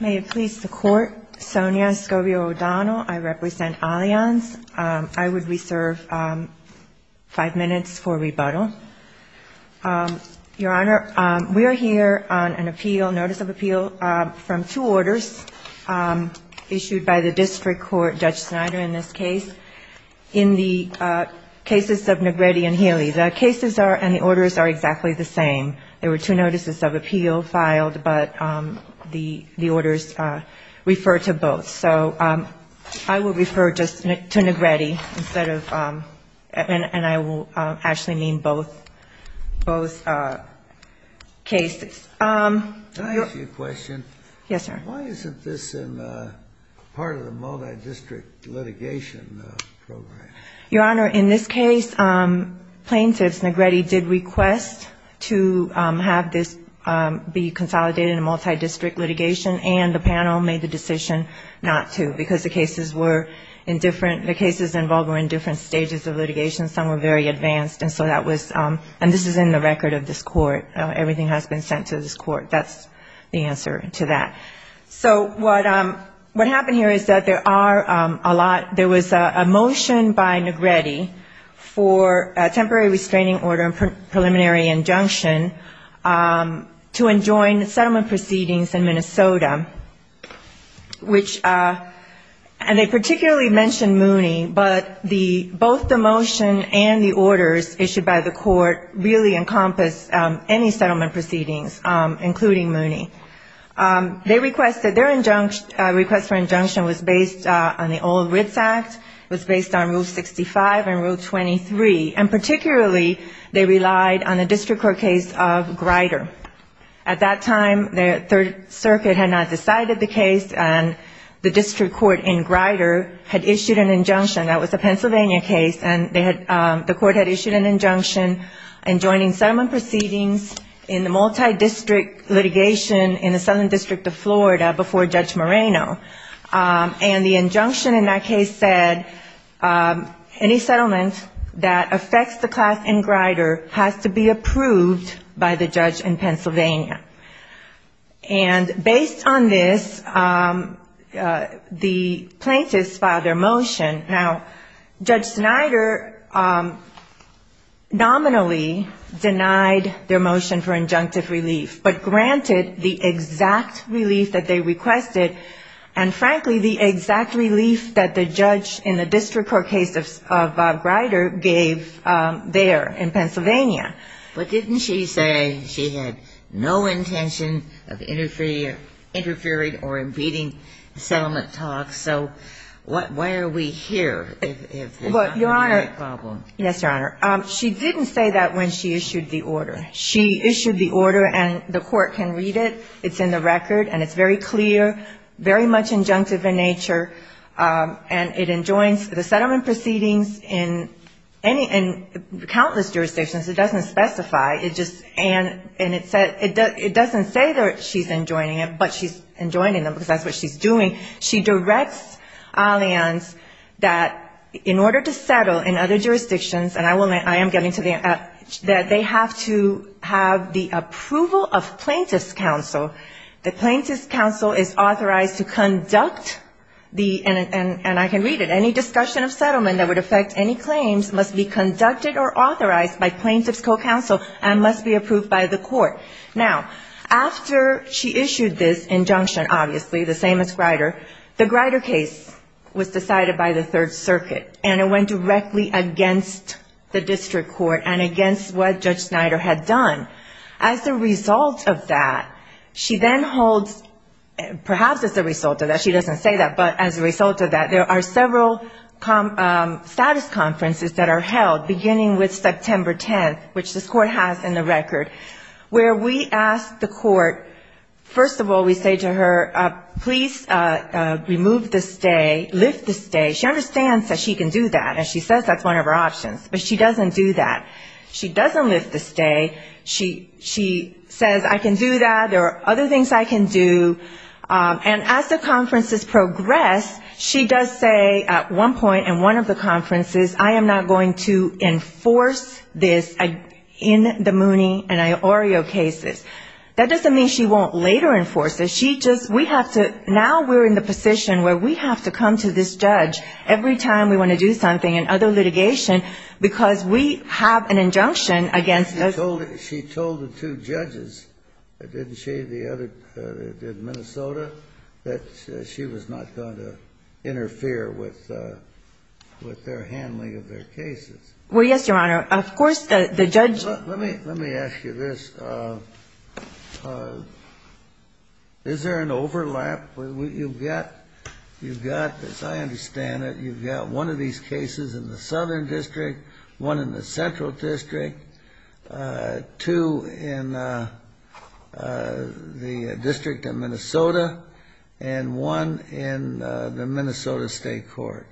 May it please the Court, Sonia Escobio-O'Donnell, I represent Allianz. I would reserve five minutes for rebuttal. Your Honor, we are here on an appeal, notice of appeal from two orders issued by the district court, Judge Snyder in this case, in the cases of Nagrede and Healey. The cases are, and the orders are exactly the same. They were two notices of appeal filed, but the court decided that the orders refer to both. So I will refer just to Nagrede instead of, and I will actually mean both cases. Can I ask you a question? Yes, sir. Why isn't this part of the multi-district litigation program? Your Honor, in this case, plaintiffs, Nagrede did request to have this be consolidated in a multi-district litigation, and the panel made the decision not to, because the cases were in different, the cases involved were in different stages of litigation. Some were very advanced, and so that was, and this is in the record of this court. Everything has been sent to this court. That's the answer to that. So what happened here is that there are a lot, there was a motion by Nagrede for a temporary restraining order and preliminary injunction to enjoin settlement proceedings in Minnesota, which, and they particularly mentioned Mooney, but both the motion and the orders issued by the court really encompass any settlement proceedings, including Mooney. They requested, their request for injunction was based on the old Ritz Act, was based on Rule 65 and Rule 23, and particularly they relied on the district court case of Grider. At that time, the Third Circuit had not decided the case, and the district court in Grider had issued an injunction. That was a Pennsylvania case, and the court had issued an injunction enjoining settlement proceedings in the multi-district litigation in the southern district of Florida before Judge Moreno. And the injunction in that case said, any settlement that affects the class in Grider has to be approved by the judge in Pennsylvania. And based on this, the plaintiffs filed their motion. Now, I'm not going to go into the details of the motion, but, you know, Judge Snyder nominally denied their motion for injunctive relief, but granted the exact relief that they requested, and frankly, the exact relief that the judge in the district court case of Grider gave there in Pennsylvania. But didn't she say she had no intention of interfering or impeding settlement talks, so why are we here? I mean, why are we in Pennsylvania? If it's not going to be a problem. Yes, Your Honor. She didn't say that when she issued the order. She issued the order, and the court can read it. It's in the record, and it's very clear, very much injunctive in nature, and it enjoins the settlement proceedings in any of the countless jurisdictions. It doesn't specify. It just — and it said — it doesn't say that she's enjoining it, but she's enjoining it because that's what she's doing. She directs her clients that in order to settle in other jurisdictions, and I will — I am getting to the end — that they have to have the approval of plaintiff's counsel. The plaintiff's counsel is authorized to conduct the — and I can read it — any discussion of settlement that would affect any claims must be conducted or authorized by plaintiff's co-counsel and must be approved by the court. Now, after she issued this injunction, obviously, the same as Grider, the Grider case, which is the one that we're going to talk about, was decided by the Third Circuit, and it went directly against the district court and against what Judge Snyder had done. As a result of that, she then holds — perhaps as a result of that. She doesn't say that, but as a result of that, there are several status conferences that are held, beginning with September 10th, which this court has in the record, where we ask the court — first of all, we say to her, please remove the stay, lift the stay. She understands that she can do that, and she says that's one of her options, but she doesn't do that. She doesn't lift the stay. She says, I can do that. There are other things I can do. And as the conferences progress, she does say at one point in one of the conferences, I am not going to enforce this in the Mooney and Snyder case. I am not going to enforce this in the Mooney and Snyder case. She just — we have to — now we're in the position where we have to come to this judge every time we want to do something in other litigation, because we have an injunction against those — Kennedy She told the two judges, didn't she, the other — in Minnesota, that she was not going to interfere with their handling of their cases. O'Connell Well, yes, Your Honor. Of course, the judge — Kennedy Is there an overlap? You've got, as I understand it, you've got one of these cases in the Southern District, one in the Central District, two in the District of Minnesota, and one in the Minnesota State Court.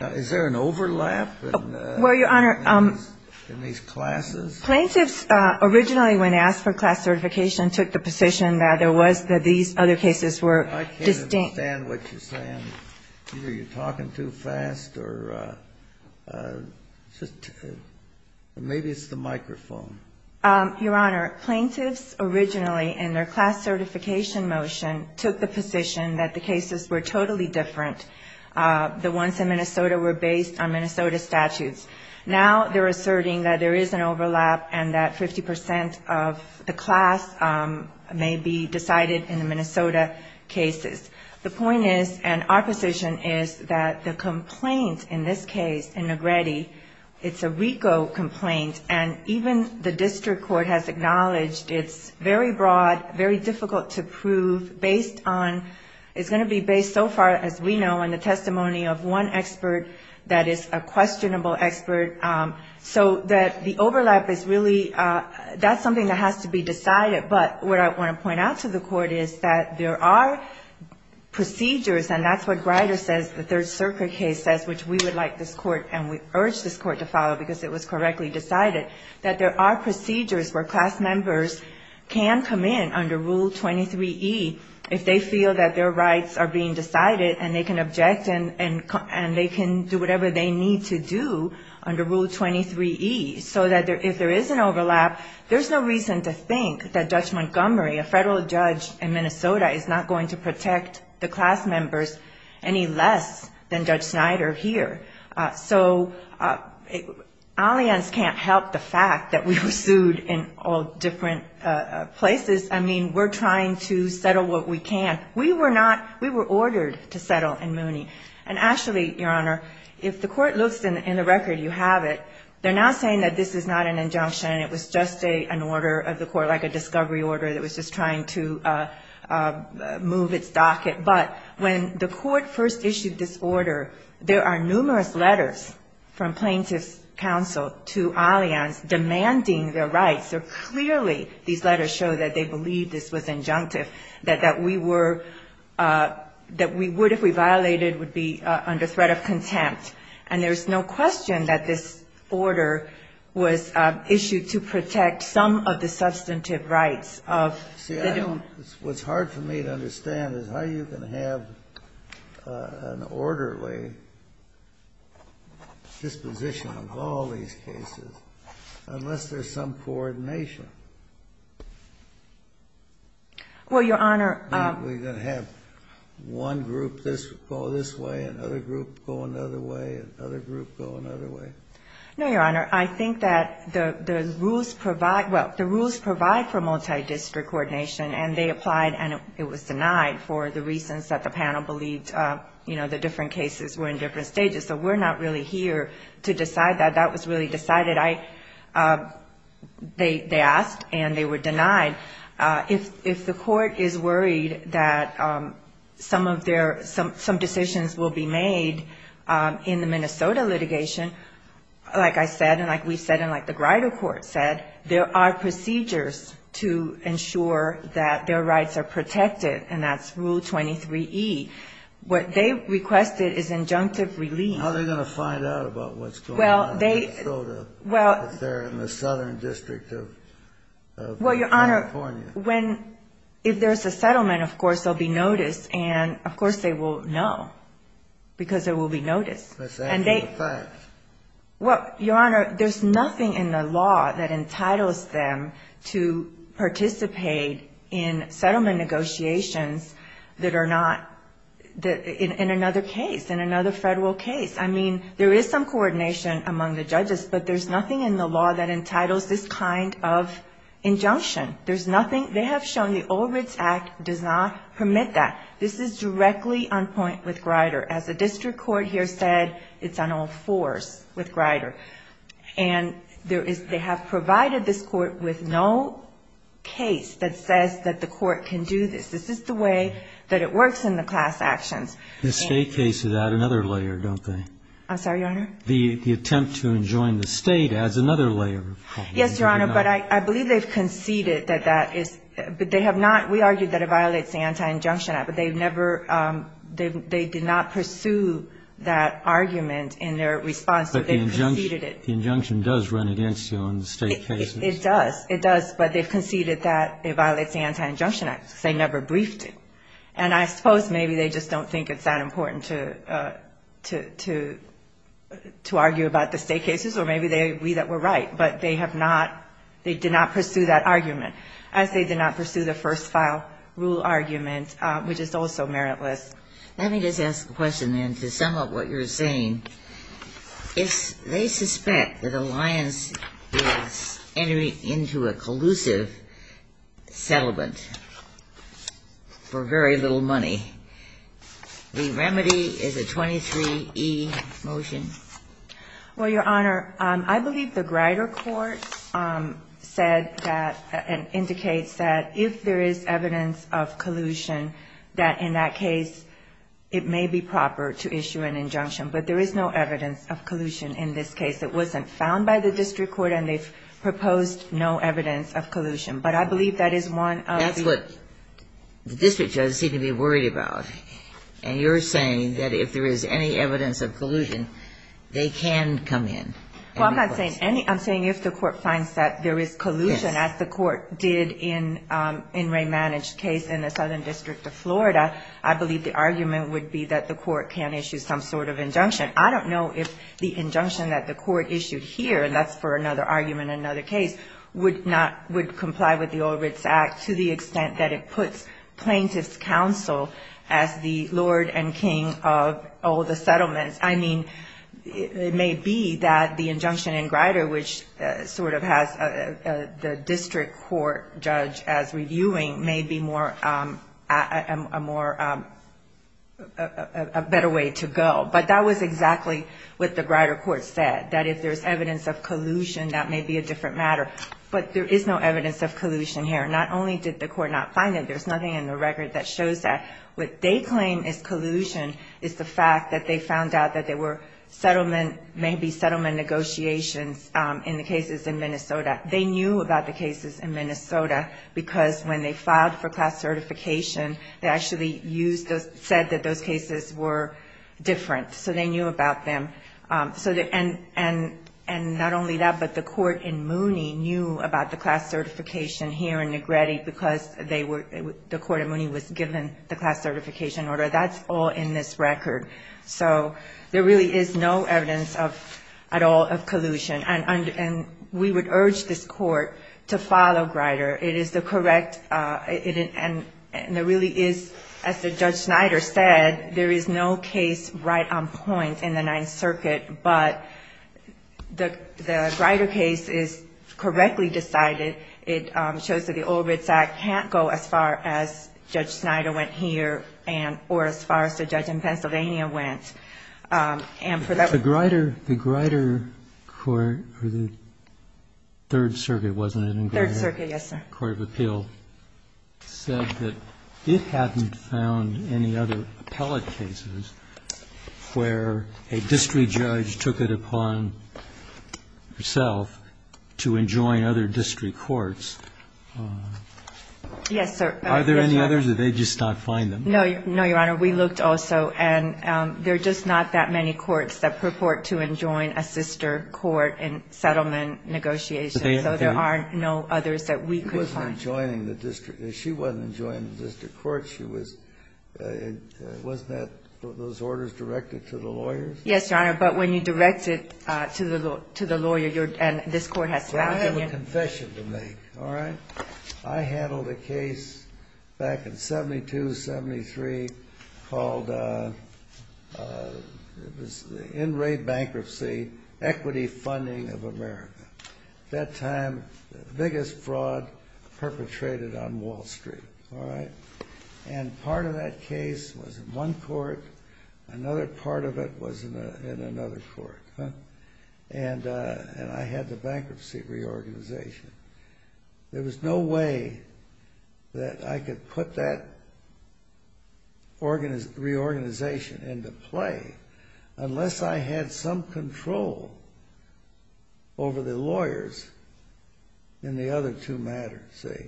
Is there an overlap in these classes? O'Connell Plaintiffs originally, when asked for class certification, took the position that there was — that these other cases were distinct. Kennedy I can't understand what you're saying. Either you're talking too fast, or just — or maybe it's the microphone. O'Connell Your Honor, plaintiffs originally, in their class certification motion, took the position that the cases were totally different. The ones in Minnesota were based on Minnesota statutes. Now they're asserting that there is an overlap. And that 50 percent of the class may be decided in the Minnesota cases. The point is, and our position is, that the complaint in this case, in Negrete, it's a RICO complaint. And even the District Court has acknowledged it's very broad, very difficult to prove, based on — it's going to be based, so far as we know, on the testimony of one expert that is a questionable expert. So that the overlap is really — that's something that has to be decided. But what I want to point out to the Court is that there are procedures, and that's what Greider says, the Third Circuit case says, which we would like this Court, and we urge this Court to follow, because it was correctly decided, that there are procedures where class members can come in under Rule 23E, if they feel that their rights are being decided, and they can object, and they can do whatever they need to do under Rule 23E. So that if there is an overlap, there's no reason to think that Judge Montgomery, a federal judge in Minnesota, is not going to protect the class members any less than Judge Snyder here. So Allianz can't help the fact that we were sued in all different places. I mean, we're trying to settle what we can. We were not — we were ordered to settle in Mooney. And actually, Your Honor, if the Court looks in the record, you have it, they're now saying that this is not an injunction, and it was just an order of the Court, like a discovery order that was just trying to move its docket. But when the Court first issued this order, there are numerous letters from plaintiffs' counsel to Allianz demanding their rights. So clearly, these letters show that they believe this was injunctive, that that we were — that we would, if we violated, would be under threat of contempt. And there's no question that this order was issued to protect some of the substantive rights of the — See, I don't — what's hard for me to understand is how you can have an orderly disposition of all these cases, unless there's some coordination. Well, Your Honor — You mean we're going to have one group go this way, another group go another way, another group go another way? No, Your Honor. I think that the rules provide — well, the rules provide for multidistrict coordination, and they applied, and it was denied, for the reasons that the panel believed, you know, the different cases were in different stages. So we're not really here to decide that. That was really decided. They asked, and they were denied. If the Court is worried that some of their — some decisions will be made in the Minnesota litigation, like I said, and like we've said, and like the Grider Court said, there are procedures to ensure that their rights are protected, and that's Rule 23E. What they requested is injunctive relief. How are they going to find out about what's going on in Minnesota, if they're in the southern district of California? Well, Your Honor, when — if there's a settlement, of course, they'll be noticed, and, of course, they will know, because they will be noticed. And they — Well, Your Honor, there's nothing in the law that entitles them to participate in settlement negotiations that are not — in another case, in another Federal case. I mean, there is some coordination among the judges, but there's nothing in the law that entitles this kind of injunction. There's nothing — they have shown the Old Ritz Act does not permit that. This is directly on point with Grider. As the district court here said, it's on all fours with Grider. And there is — they have provided this court with no case that says that the court can do this. This is the way that it works in the class actions. The state cases add another layer, don't they? I'm sorry, Your Honor? Yes, Your Honor, but I believe they've conceded that that is — but they have not — we argue that it violates the Anti-Injunction Act, but they've never — they did not pursue that argument in their response, but they've conceded it. But the injunction does run against you on the state cases. It does. It does, but they've conceded that it violates the Anti-Injunction Act, because they never briefed it. And I suppose maybe they just don't think it's that important to argue about the state cases, or maybe we that were right, but they have not — they did not pursue that argument, as they did not pursue the first-file rule argument, which is also meritless. Let me just ask a question, then, to sum up what you're saying. If they suspect that Alliance is entering into a collusive settlement for very little money, the remedy is a 23E motion? Well, Your Honor, I believe the Grider court said that — and indicates that if there is evidence of collusion, that in that case it may be proper to issue an injunction. But there is no evidence of collusion in this case. It wasn't found by the district court, and they've proposed no evidence of collusion. But I believe that is one of the — That's what the district judges seem to be worried about. And you're saying that if there is any evidence of collusion, they can come in. Well, I'm not saying any. I'm saying if the court finds that there is collusion, as the court did in Ray Manage's case in the Southern District of Florida, I believe the argument would be that the court can issue some sort of injunction. I don't know if the injunction that the court issued here — and that's for another argument in another case — would not — would comply with the Old Ritz Act to the extent that it puts plaintiff's counsel as the lord and king of all the settlements. I mean, it may be that the injunction in Grider, which sort of has the district court judge as reviewing, may be more — a more — a better way to go. But that was exactly what the Grider court said, that if there's evidence of collusion, that may be a different matter. But there is no evidence of collusion here. Not only did the court not find it, there's nothing in the record that shows that. What they claim is collusion is the fact that they found out that there were settlement — because when they filed for class certification, they actually used those — said that those cases were different, so they knew about them. And not only that, but the court in Mooney knew about the class certification here in Negretti because they were — the court in Mooney was given the class certification order. That's all in this record. So there really is no evidence at all of collusion. And we would urge this court to follow Grider. It is the correct — and there really is, as Judge Snyder said, there is no case right on point in the Ninth Circuit. But the Grider case is correctly decided. It shows that the Old Ritz Act can't go as far as Judge Snyder went here and — or as far as the judge in Pennsylvania went. And for that — The Grider court — or the Third Circuit, wasn't it, in Grider? Third Circuit, yes, sir. The court of appeal said that it hadn't found any other appellate cases where a district judge took it upon herself to enjoin other district courts. Yes, sir. Are there any others, or did they just not find them? No, Your Honor. We looked also, and there are just not that many courts that purport to enjoin a sister court in settlement negotiations. So there are no others that we could find. She wasn't enjoining the district. She wasn't enjoining the district court. She was — wasn't that — those orders directed to the lawyers? Yes, Your Honor. But when you direct it to the lawyer, you're — and this court has found — I have a confession to make, all right? I handled a case back in 72, 73, called — it was in-rate bankruptcy, equity funding of America. At that time, the biggest fraud perpetrated on Wall Street, all right? And part of that case was in one court. Another part of it was in another court. And I had the bankruptcy reorganization. There was no way that I could put that reorganization into play unless I had some control over the lawyers in the other two matters, see?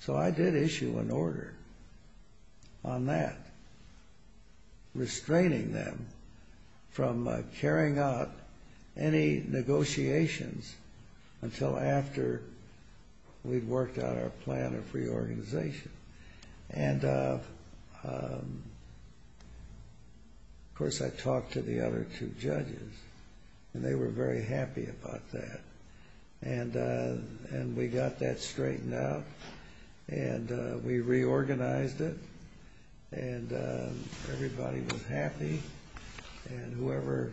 So I did issue an order on that, restraining them from carrying out any negotiations until after we'd worked out our plan of reorganization. And, of course, I talked to the other two judges, and they were very happy about that. And we got that straightened out, and we reorganized it, and everybody was happy. And whoever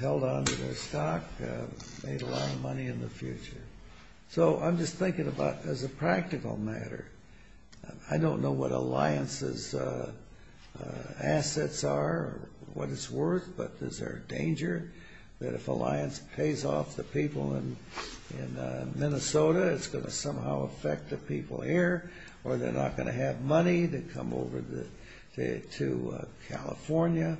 held onto their stock made a lot of money in the future. So I'm just thinking about as a practical matter. I don't know what Alliance's assets are or what it's worth, but is there a danger that if Alliance pays off the people in Minnesota, it's going to somehow affect the people here, or they're not going to have money to come over to California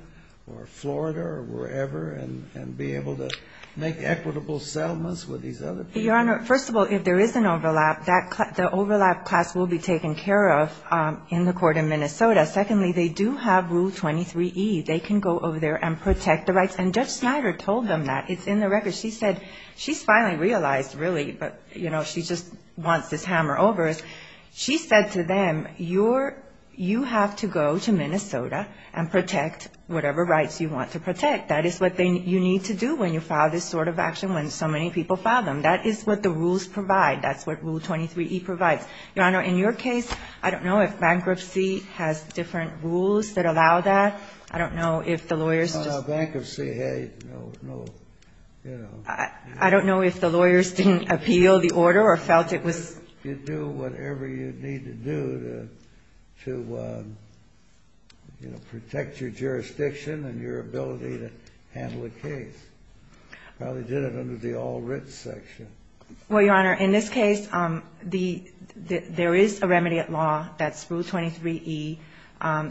or Florida or wherever and be able to make equitable settlements with these other people? Your Honor, first of all, if there is an overlap, the overlap class will be taken care of in the court in Minnesota. Secondly, they do have Rule 23E. They can go over there and protect the rights. And Judge Snyder told them that. It's in the record. She said she's finally realized, really, but, you know, she just wants this hammer over. She said to them, you have to go to Minnesota and protect whatever rights you want to protect. That is what you need to do when you file this sort of action when so many people file them. That is what the rules provide. That's what Rule 23E provides. Your Honor, in your case, I don't know if bankruptcy has different rules that allow that. I don't know if the lawyers just ---- I don't know if the lawyers didn't appeal the order or felt it was ---- You do whatever you need to do to, you know, protect your jurisdiction and your ability to handle a case. Well, they did it under the All Writs section. Well, Your Honor, in this case, there is a remedy at law. That's Rule 23E.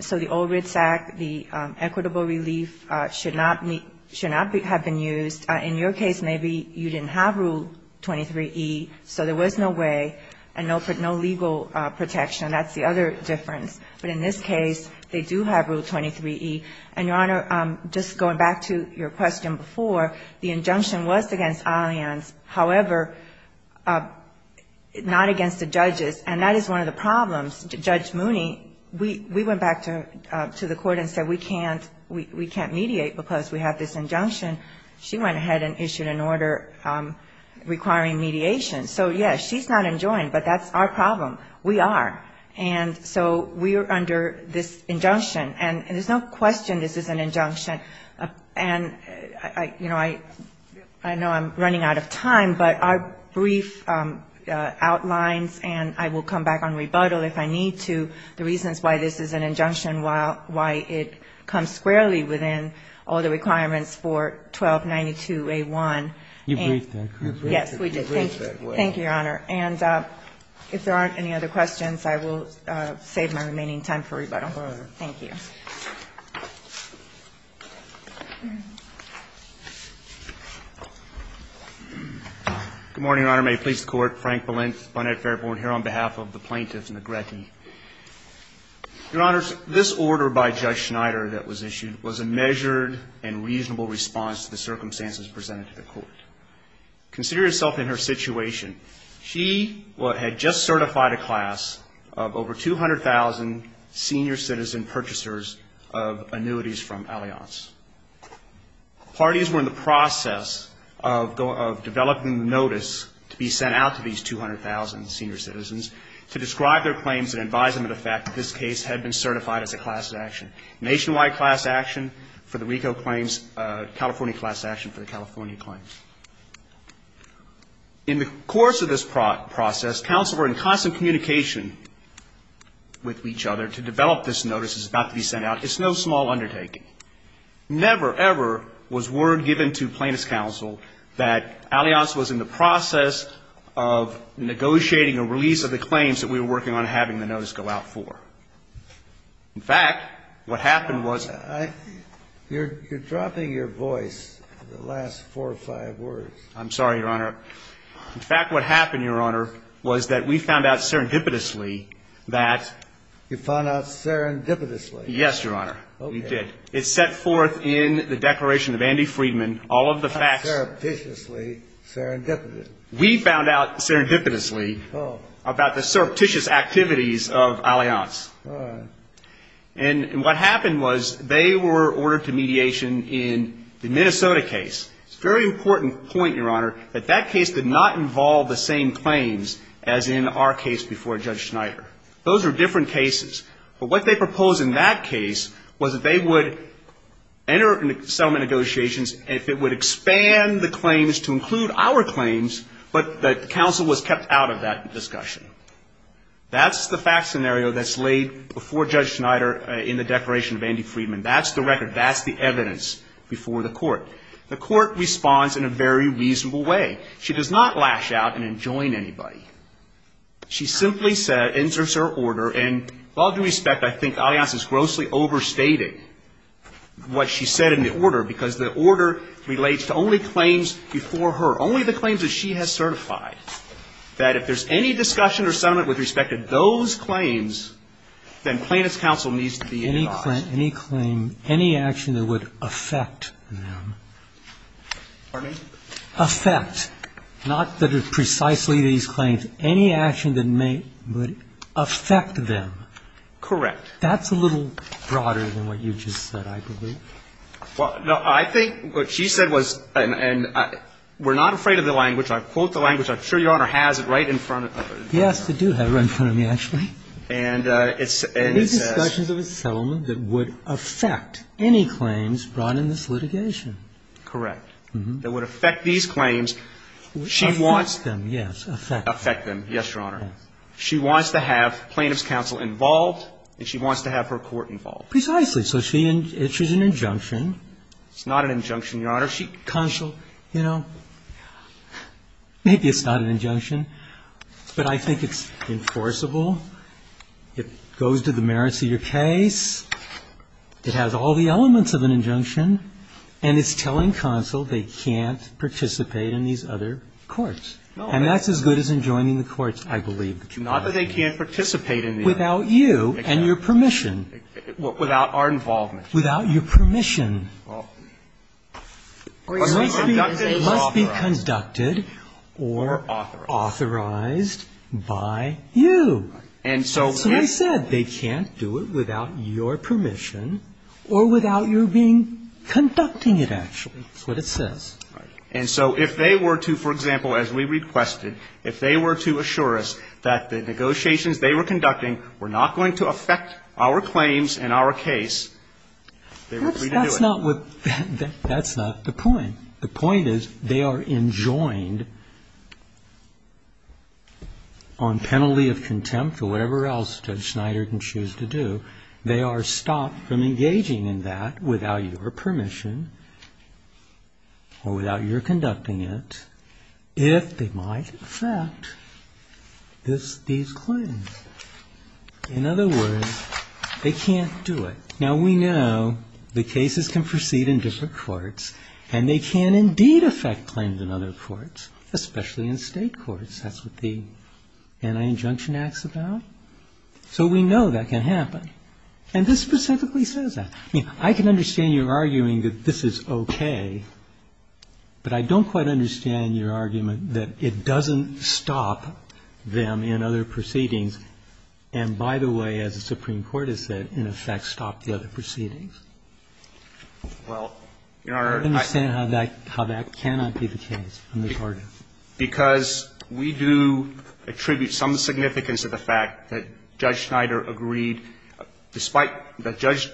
So the All Writs Act, the equitable relief, should not have been used. In your case, maybe you didn't have Rule 23E, so there was no way and no legal protection. That's the other difference. But in this case, they do have Rule 23E. And, Your Honor, just going back to your question before, the injunction was against Allianz, however, not against the judges, and that is one of the problems. Judge Mooney, we went back to the court and said we can't mediate because we have this injunction. She went ahead and issued an order requiring mediation. So, yes, she's not enjoined, but that's our problem. We are. And so we are under this injunction. And there's no question this is an injunction. And, you know, I know I'm running out of time, but our brief outlines, and I will come back on rebuttal if I need to, the reasons why this is an injunction, why it comes squarely within all the requirements for 1292A1. And, yes, we did. Thank you. Thank you, Your Honor. And if there aren't any other questions, I will save my remaining time for rebuttal. Thank you. Good morning, Your Honor. May it please the Court. Frank Balint, Bonnet Fairborn, here on behalf of the plaintiff, Negretti. Your Honor, this order by Judge Schneider that was issued was a measured and reasonable response to the circumstances presented to the Court. Consider yourself in her situation. She had just certified a class of over 200,000 senior citizen purchasers. Purchasers of annuities from Allianz. Parties were in the process of developing the notice to be sent out to these 200,000 senior citizens to describe their claims and advise them of the fact that this case had been certified as a class action, nationwide class action for the RICO claims, California class action for the California claims. In the course of this process, counsel were in constant communication with each other to develop this notice that was about to be sent out. It's no small undertaking. Never, ever was word given to plaintiff's counsel that Allianz was in the process of negotiating a release of the claims that we were working on having the notice go out for. In fact, what happened was that we found out serendipitously that you found out serendipitously. Yes, Your Honor. Okay. We did. It's set forth in the Declaration of Andy Friedman, all of the facts. Not surreptitiously, serendipitously. We found out serendipitously about the surreptitious activities of Allianz. All right. And what happened was they were ordered to mediation in the Minnesota case. It's a very important point, Your Honor, that that case did not involve the same claims as in our case before Judge Schneider. Those are different cases. But what they proposed in that case was that they would enter settlement negotiations if it would expand the claims to include our claims, but the counsel was kept out of that discussion. That's the fact scenario that's laid before Judge Schneider in the Declaration of Andy Friedman. That's the record. That's the evidence before the Court. The Court responds in a very reasonable way. She does not lash out and enjoin anybody. She simply said, inserts her order, and all due respect, I think Allianz is grossly overstating what she said in the order, because the order relates to only claims before her, only the claims that she has certified, that if there's any discussion or settlement with respect to those claims, then plaintiff's counsel needs to be interrogated. Any claim, any action that would affect them. Pardon me? Affect. Not that it's precisely these claims. Any action that may affect them. Correct. That's a little broader than what you just said, I believe. Well, no. I think what she said was, and we're not afraid of the language. I quote the language. I'm sure Your Honor has it right in front of her. Yes, I do have it right in front of me, actually. And it says. Any discussions of a settlement that would affect any claims brought in this litigation. Correct. That would affect these claims. She wants. Affect them, yes. Affect them. Yes, Your Honor. She wants to have plaintiff's counsel involved and she wants to have her court involved. Precisely. So she issues an injunction. It's not an injunction, Your Honor. She, counsel, you know, maybe it's not an injunction, but I think it's enforceable. It goes to the merits of your case. It has all the elements of an injunction. And it's telling counsel they can't participate in these other courts. And that's as good as enjoining the courts, I believe. Not that they can't participate in the other courts. Without you and your permission. Without our involvement. Without your permission. It must be conducted or authorized by you. And so. That's what I said. They can't do it without your permission or without your being conducting it, actually. That's what it says. And so if they were to, for example, as we requested, if they were to assure us that the negotiations they were conducting were not going to affect our claims and our case, they were free to do it. That's not the point. The point is they are enjoined on penalty of contempt or whatever else Judge Schneider can choose to do. They are stopped from engaging in that without your permission or without your conducting it if they might affect these claims. In other words, they can't do it. Now, we know the cases can proceed in different courts and they can indeed affect claims in other courts, especially in state courts. That's what the Anti-Injunction Act is about. So we know that can happen. And this specifically says that. I can understand your arguing that this is okay. But I don't quite understand your argument that it doesn't stop them in other proceedings. And, by the way, as the Supreme Court has said, in effect stop the other proceedings. I don't understand how that cannot be the case in this Court. Because we do attribute some significance to the fact that Judge Schneider agreed, despite that Judge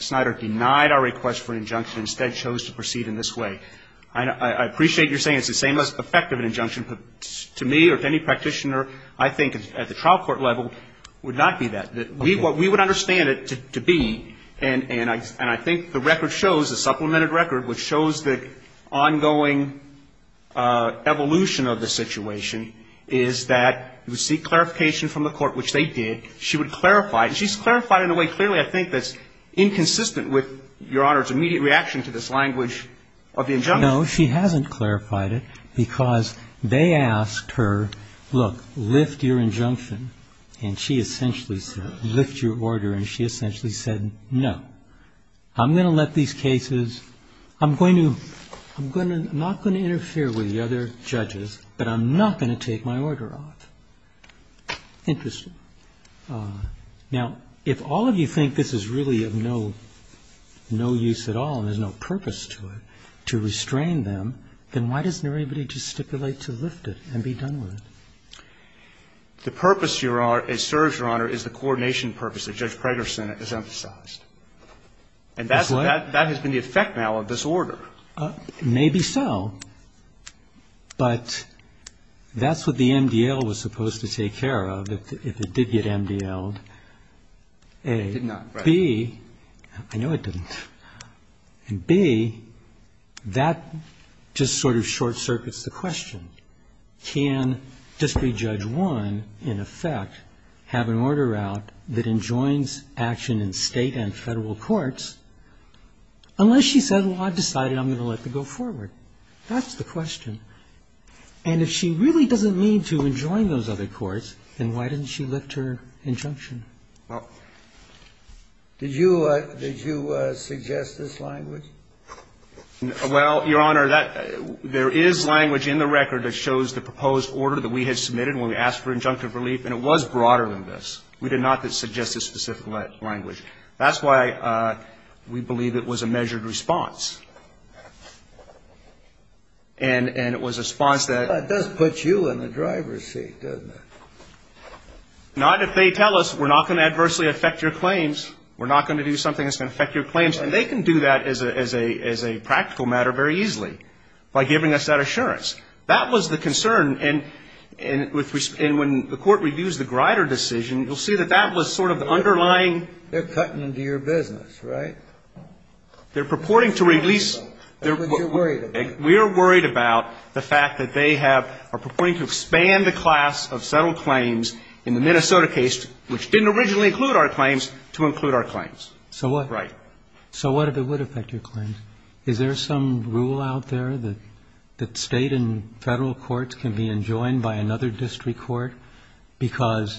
Schneider denied our request for an injunction, instead chose to proceed in this way. I appreciate your saying it's the same effect of an injunction. But to me or to any practitioner, I think at the trial court level would not be that. We would understand it to be. And I think the record shows, the supplemented record, which shows the ongoing evolution of the situation, is that you would seek clarification from the court, which they did. She would clarify it. And she's clarified it in a way, clearly, I think, that's inconsistent with Your Honor's immediate reaction to this language of the injunction. No, she hasn't clarified it. Because they asked her, look, lift your injunction. And she essentially said, lift your order. And she essentially said, no. I'm going to let these cases, I'm going to, I'm not going to interfere with the other judges, but I'm not going to take my order off. Interesting. Now, if all of you think this is really of no use at all and there's no purpose to restrain them, then why doesn't everybody just stipulate to lift it and be done with it? The purpose, Your Honor, it serves, Your Honor, is the coordination purpose that Judge Prager's Senate has emphasized. And that's what? That has been the effect now of this order. Maybe so. But that's what the MDL was supposed to take care of if it did get MDL'd, A. It did not, right. B, I know it didn't. And B, that just sort of short-circuits the question. Can District Judge 1, in effect, have an order out that enjoins action in State and Federal courts unless she said, well, I've decided I'm going to let it go forward? That's the question. And if she really doesn't mean to enjoin those other courts, then why didn't she lift her injunction? Did you suggest this language? Well, Your Honor, there is language in the record that shows the proposed order that we had submitted when we asked for injunctive relief, and it was broader than this. We did not suggest a specific language. That's why we believe it was a measured response. And it was a response that That does put you in the driver's seat, doesn't it? Not if they tell us we're not going to adversely affect your claims. We're not going to do something that's going to affect your claims. And they can do that as a practical matter very easily by giving us that assurance. That was the concern. And when the Court reviews the Grider decision, you'll see that that was sort of the underlying They're cutting into your business, right? They're purporting to release That's what you're worried about. We are worried about the fact that they have, are purporting to expand the class of So what if it would affect your claims? Is there some rule out there that State and Federal courts can be enjoined by another district court because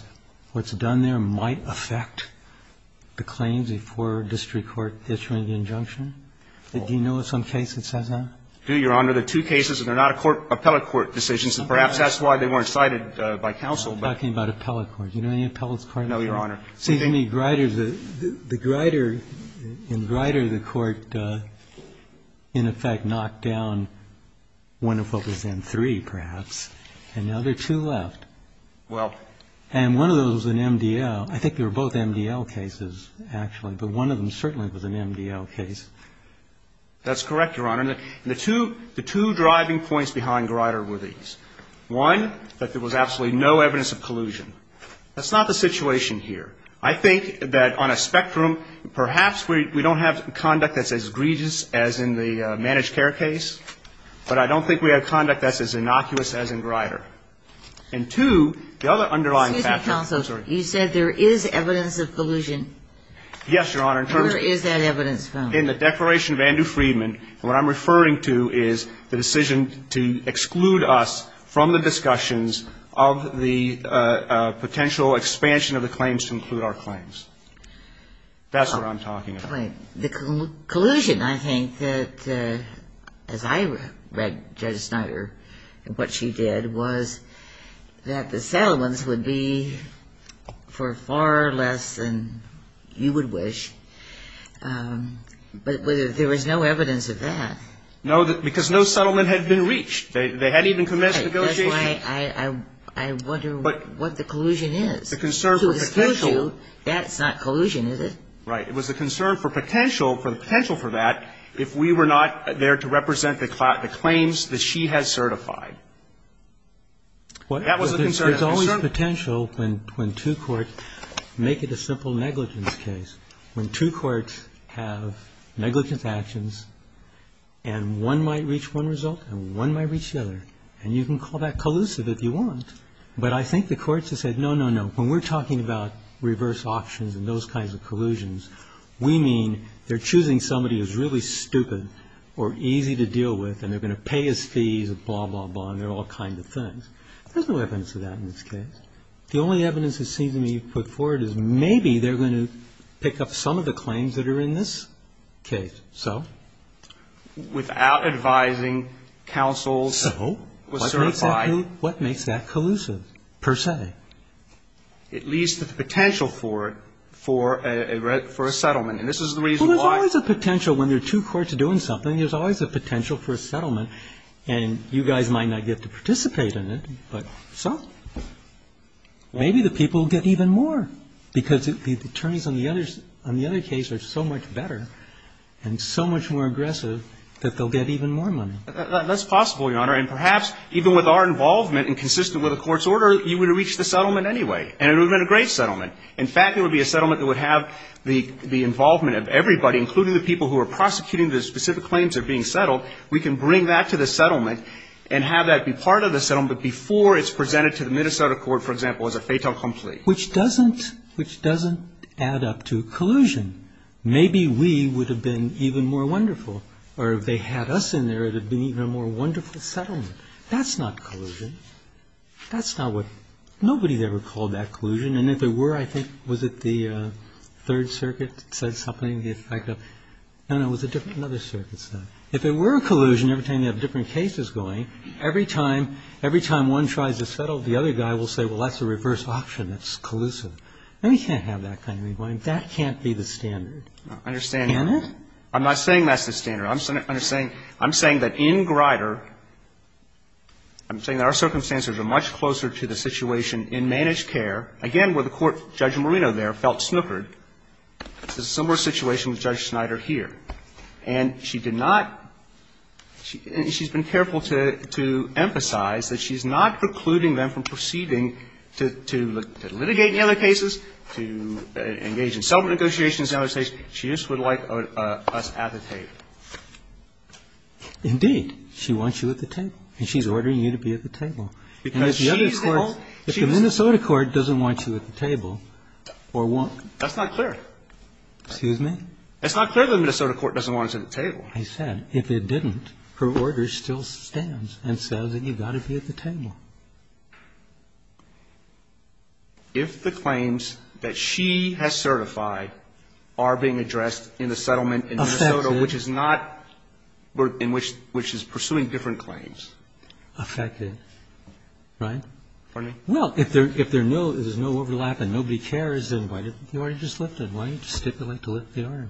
what's done there might affect the claims before a district court issuing the injunction? Do you know of some case that says that? I do, Your Honor. The two cases, and they're not appellate court decisions, and perhaps that's why they weren't cited by counsel. Talking about appellate court. Do you know any appellate court decisions? No, Your Honor. The Grider, in Grider, the Court in effect knocked down one of what was M3, perhaps, and now there are two left. Well. And one of those was an MDL. I think they were both MDL cases, actually, but one of them certainly was an MDL case. That's correct, Your Honor. And the two driving points behind Grider were these. One, that there was absolutely no evidence of collusion. That's not the situation here. I think that on a spectrum, perhaps we don't have conduct that's as egregious as in the managed care case, but I don't think we have conduct that's as innocuous as in Grider. And two, the other underlying factor. Excuse me, counsel. I'm sorry. You said there is evidence of collusion. Yes, Your Honor. Where is that evidence from? In the Declaration of Andrew Freedman, and what I'm referring to is the decision to exclude us from the discussions of the potential expansion of the claims to include our claims. That's what I'm talking about. Right. The collusion, I think, as I read Judge Snyder and what she did, was that the settlements would be for far less than you would wish, but there was no evidence of that. No, because no settlement had been reached. They hadn't even commenced negotiation. That's why I wonder what the collusion is. The concern for potential. To exclude you, that's not collusion, is it? Right. It was the concern for potential, for the potential for that, if we were not there to represent the claims that she has certified. That was the concern. There's always potential when two courts make it a simple negligence case. When two courts have negligence actions and one might reach one result and one might reach the other. And you can call that collusive if you want. But I think the courts have said, no, no, no. When we're talking about reverse options and those kinds of collusions, we mean they're choosing somebody who's really stupid or easy to deal with and they're going to pay his fees and blah, blah, blah, and they're all kinds of things. There's no evidence of that in this case. The only evidence it seems to me you've put forward is maybe they're going to pick up some of the claims that are in this case. So? Without advising counsels. So? What makes that collusive, per se? It leads to the potential for it, for a settlement. And this is the reason why. Well, there's always a potential when there are two courts doing something. There's always a potential for a settlement. And you guys might not get to participate in it. But, so? Maybe the people will get even more. Because the attorneys on the other case are so much better and so much more aggressive that they'll get even more money. That's possible, Your Honor. And perhaps even with our involvement and consistent with the court's order, you would have reached the settlement anyway. And it would have been a great settlement. In fact, it would be a settlement that would have the involvement of everybody, including the people who are prosecuting the specific claims that are being settled. We can bring that to the settlement and have that be part of the settlement before it's presented to the Minnesota court, for example, as a fatal complete. Which doesn't add up to collusion. Maybe we would have been even more wonderful. Or if they had us in there, it would have been an even more wonderful settlement. That's not collusion. That's not what ñ nobody ever called that collusion. And if there were, I think, was it the Third Circuit said something? No, no, it was another circuit. If there were collusion, every time you have different cases going, every time one tries to settle, the other guy will say, well, that's a reverse option, that's collusive. No, you can't have that kind of involvement. That can't be the standard. And it? I'm not saying that's the standard. I'm saying that in Grider, I'm saying that our circumstances are much closer to the situation in managed care, again, where the court, Judge Marino there, felt snookered. It's a similar situation with Judge Snyder here. And she did not ñ she's been careful to emphasize that she's not precluding them from proceeding to litigate in other cases, to engage in settlement negotiations in other cases. She just would like us at the table. Indeed. She wants you at the table. And she's ordering you to be at the table. Because she's the one. If the Minnesota court doesn't want you at the table, or won't. That's not clear. Excuse me? That's not clear that the Minnesota court doesn't want us at the table. I said, if it didn't, her order still stands and says that you've got to be at the table. If the claims that she has certified are being addressed in the settlement in Minnesota, which is not ñ which is pursuing different claims. Affected. Right? Pardon me? Well, if there's no overlap and nobody cares, then why didn't you just lift it? Why didn't you stipulate to lift the order?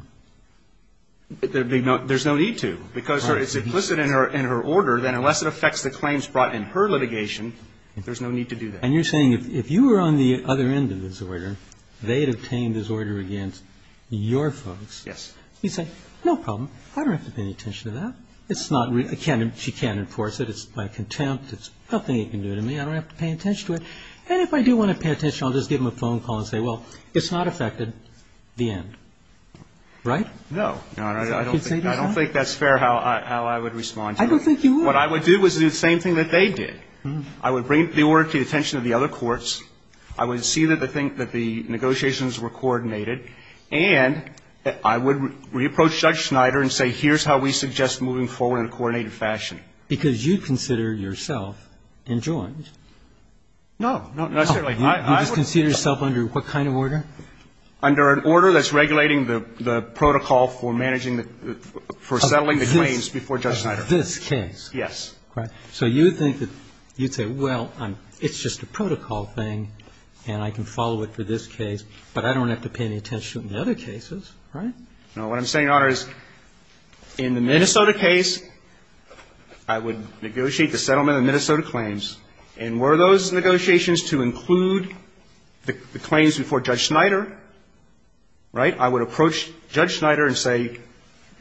There's no need to. Because it's implicit in her order. Then unless it affects the claims brought in her litigation, there's no need to do that. And you're saying if you were on the other end of this order, they had obtained this order against your folks. Yes. You say, no problem. I don't have to pay any attention to that. It's not ñ she can't enforce it. It's my contempt. It's nothing you can do to me. I don't have to pay attention to it. And if I do want to pay attention, I'll just give them a phone call and say, well, it's not affected the end. Right? No. Your Honor, I don't think that's fair how I would respond to that. I don't think you would. What I would do is do the same thing that they did. I would bring the order to the attention of the other courts. I would see that the negotiations were coordinated. And I would reapproach Judge Schneider and say, here's how we suggest moving forward in a coordinated fashion. Because you consider yourself enjoined. No. Not necessarily. You just consider yourself under what kind of order? Under an order that's regulating the protocol for managing the ñ for settling the claims before Judge Schneider. Of this case. Yes. So you think that you'd say, well, it's just a protocol thing, and I can follow it for this case. But I don't have to pay any attention to the other cases. Right? No. What I'm saying, Your Honor, is in the Minnesota case, I would negotiate the settlement of the Minnesota claims. And were those negotiations to include the claims before Judge Schneider, right, I would approach Judge Schneider and say,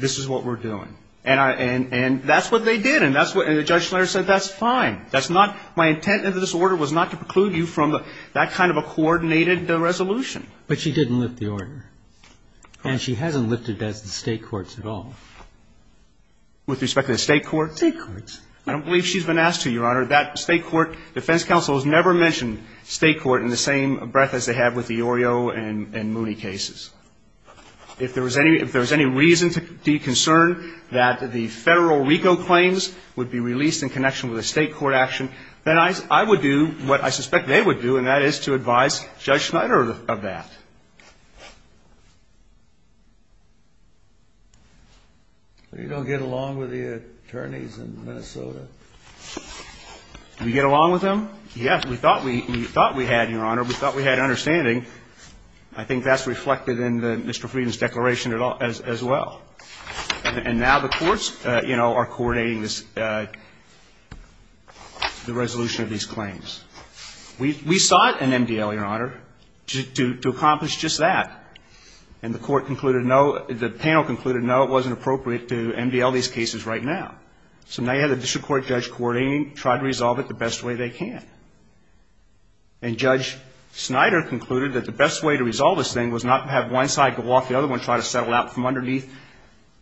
this is what we're doing. And I ñ and that's what they did. And that's what ñ and Judge Schneider said, that's fine. That's not ñ my intent in this order was not to preclude you from that kind of a coordinated resolution. But she didn't lift the order. Of course. And she hasn't lifted it as the State courts at all. With respect to the State court? State courts. I don't believe she's been asked to, Your Honor. That State court defense counsel has never mentioned State court in the same breath as they have with the Orio and Mooney cases. If there was any ñ if there was any reason to be concerned that the Federal RICO claims would be released in connection with a State court action, then I would do what I suspect they would do, and that is to advise Judge Schneider of that. They don't get along with the attorneys in Minnesota. Do we get along with them? Yes. We thought we ñ we thought we had, Your Honor. We thought we had an understanding. I think that's reflected in Mr. Frieden's declaration as well. And now the courts, you know, are coordinating this ñ the resolution of these claims. We sought an MDL, Your Honor, to accomplish just that. And the court concluded no ñ the panel concluded no, it wasn't appropriate to MDL these cases right now. So now you have the district court judge coordinating, trying to resolve it the best way they can. And Judge Schneider concluded that the best way to resolve this thing was not to have one side go off, the other one try to settle out from underneath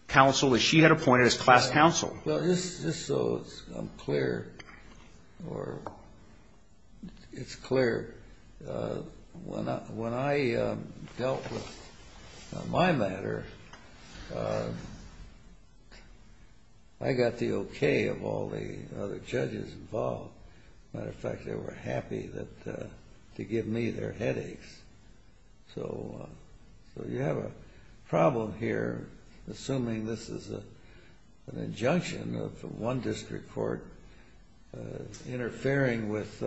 counsel that she had appointed as class counsel. Well, just so I'm clear, or it's clear, when I dealt with my matter, I got the okay of all the other judges involved. As a matter of fact, they were happy to give me their headaches. So you have a problem here, assuming this is an injunction of one district court interfering with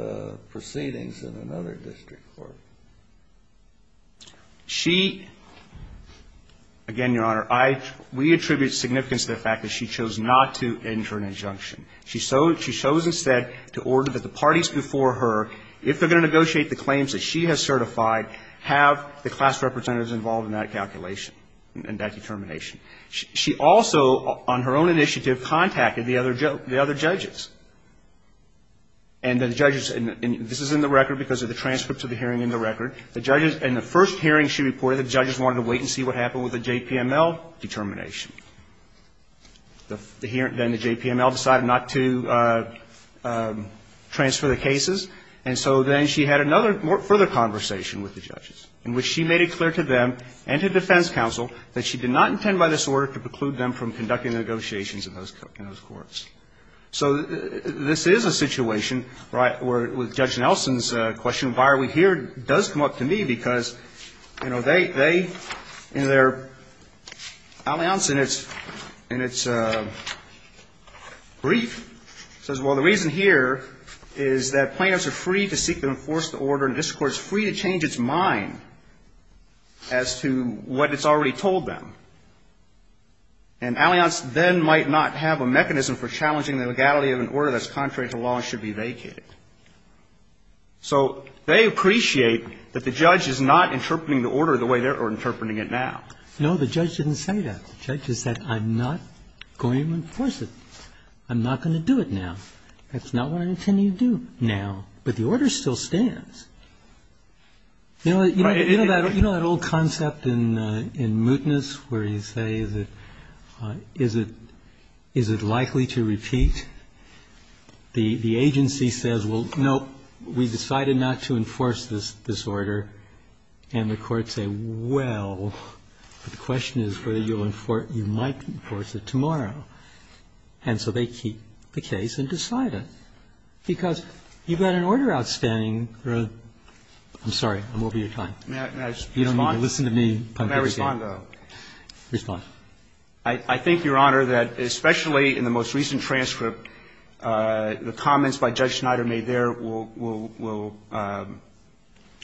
proceedings in another district court. She ñ again, Your Honor, I ñ we attribute significance to the fact that she chose not to enter an injunction. She chose instead to order that the parties before her, if they're going to negotiate the claims that she has certified, have the class representatives involved in that calculation, in that determination. She also, on her own initiative, contacted the other judges. And the judges ñ and this is in the record because of the transcripts of the hearing in the record. The judges ñ in the first hearing she reported, the judges wanted to wait and see what happened with the JPML determination. Then the JPML decided not to transfer the cases. And so then she had another further conversation with the judges in which she made it clear to them and to defense counsel that she did not intend by this order to preclude them from conducting the negotiations in those courts. So this is a situation, right, where with Judge Nelson's question, why are we here, does come up to me because, you know, they, in their ñ Allianz, in its brief, says, well, the reason here is that plaintiffs are free to seek to enforce the order in this court, free to change its mind as to what it's already told them. And Allianz then might not have a mechanism for challenging the legality of an order that's contrary to law and should be vacated. So they appreciate that the judge is not interpreting the order the way they are interpreting it now. No, the judge didn't say that. The judge has said, I'm not going to enforce it. I'm not going to do it now. That's not what I intend to do now. But the order still stands. You know that old concept in mootness where you say, is it likely to repeat? The agency says, well, no, we decided not to enforce this order. And the courts say, well, the question is whether you'll enforce ñ you might enforce it tomorrow. And so they keep the case and decide it. Because you've got an order outstanding ñ I'm sorry. I'm over your time. You don't need to listen to me. Roberts. May I respond, though? Respond. I think, Your Honor, that especially in the most recent transcript, the comments by Judge Schneider made there will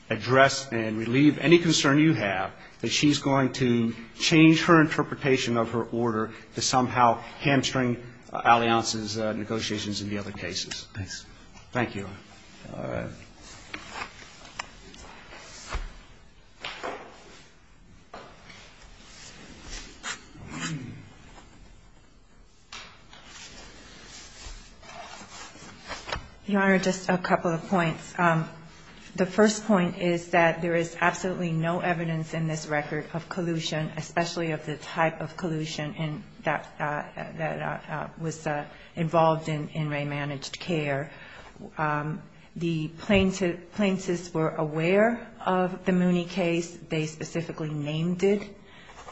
address and relieve any concern you have that she's going to change her interpretation of her order to somehow hamstring Allianz's negotiations in the other cases. Thank you. All right. Your Honor, just a couple of points. The first point is that there is absolutely no evidence in this record of collusion, especially of the type of collusion that was involved in in-ray managed care. The plaintiffs were aware of the Mooney case. They specifically named it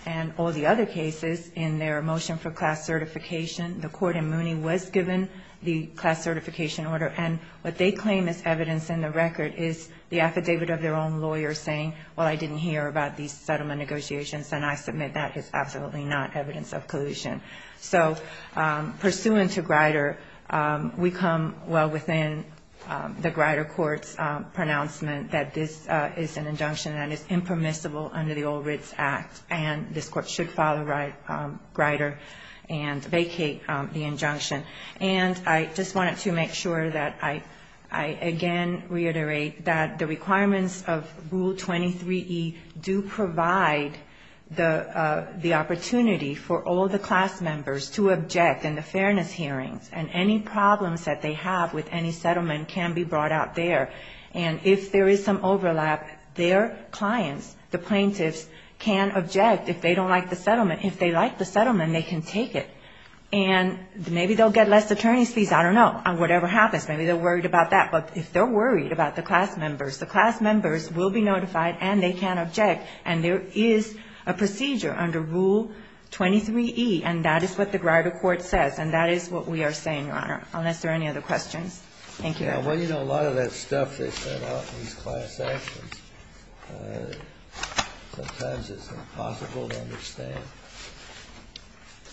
and all the other cases in their motion for class certification. The court in Mooney was given the class certification order. And what they claim is evidence in the record is the affidavit of their own lawyer saying, well, I didn't hear about these settlement negotiations, and I submit that is absolutely not evidence of collusion. So, pursuant to Grider, we come well within the Grider court's pronouncement that this is an injunction that is impermissible under the Old Ritz Act, and this court should follow Grider and vacate the injunction. And I just wanted to make sure that I again reiterate that the requirements of ruling in the Mooney case and Rule 23E do provide the opportunity for all the class members to object in the fairness hearings. And any problems that they have with any settlement can be brought out there. And if there is some overlap, their clients, the plaintiffs, can object if they don't like the settlement. If they like the settlement, they can take it. And maybe they'll get less attorney's fees, I don't know. Whatever happens. Maybe they're worried about that. But if they're worried about the class members, the class members will be notified and they can object. And there is a procedure under Rule 23E, and that is what the Grider court says. And that is what we are saying, Your Honor, unless there are any other questions. Thank you, Your Honor. Well, you know, a lot of that stuff they set out in these class actions, sometimes it's impossible to understand.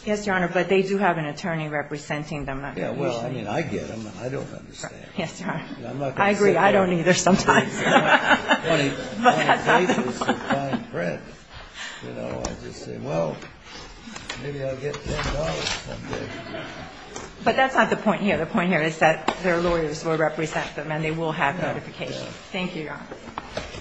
Yes, Your Honor, but they do have an attorney representing them. Yeah, well, I mean, I get them. I don't understand. Yes, Your Honor. I'm not going to say that. I agree. I don't either sometimes. On a basis of fine print, you know, I just say, well, maybe I'll get $10 someday. But that's not the point here. The point here is that their lawyers will represent them and they will have notification. Thank you, Your Honor.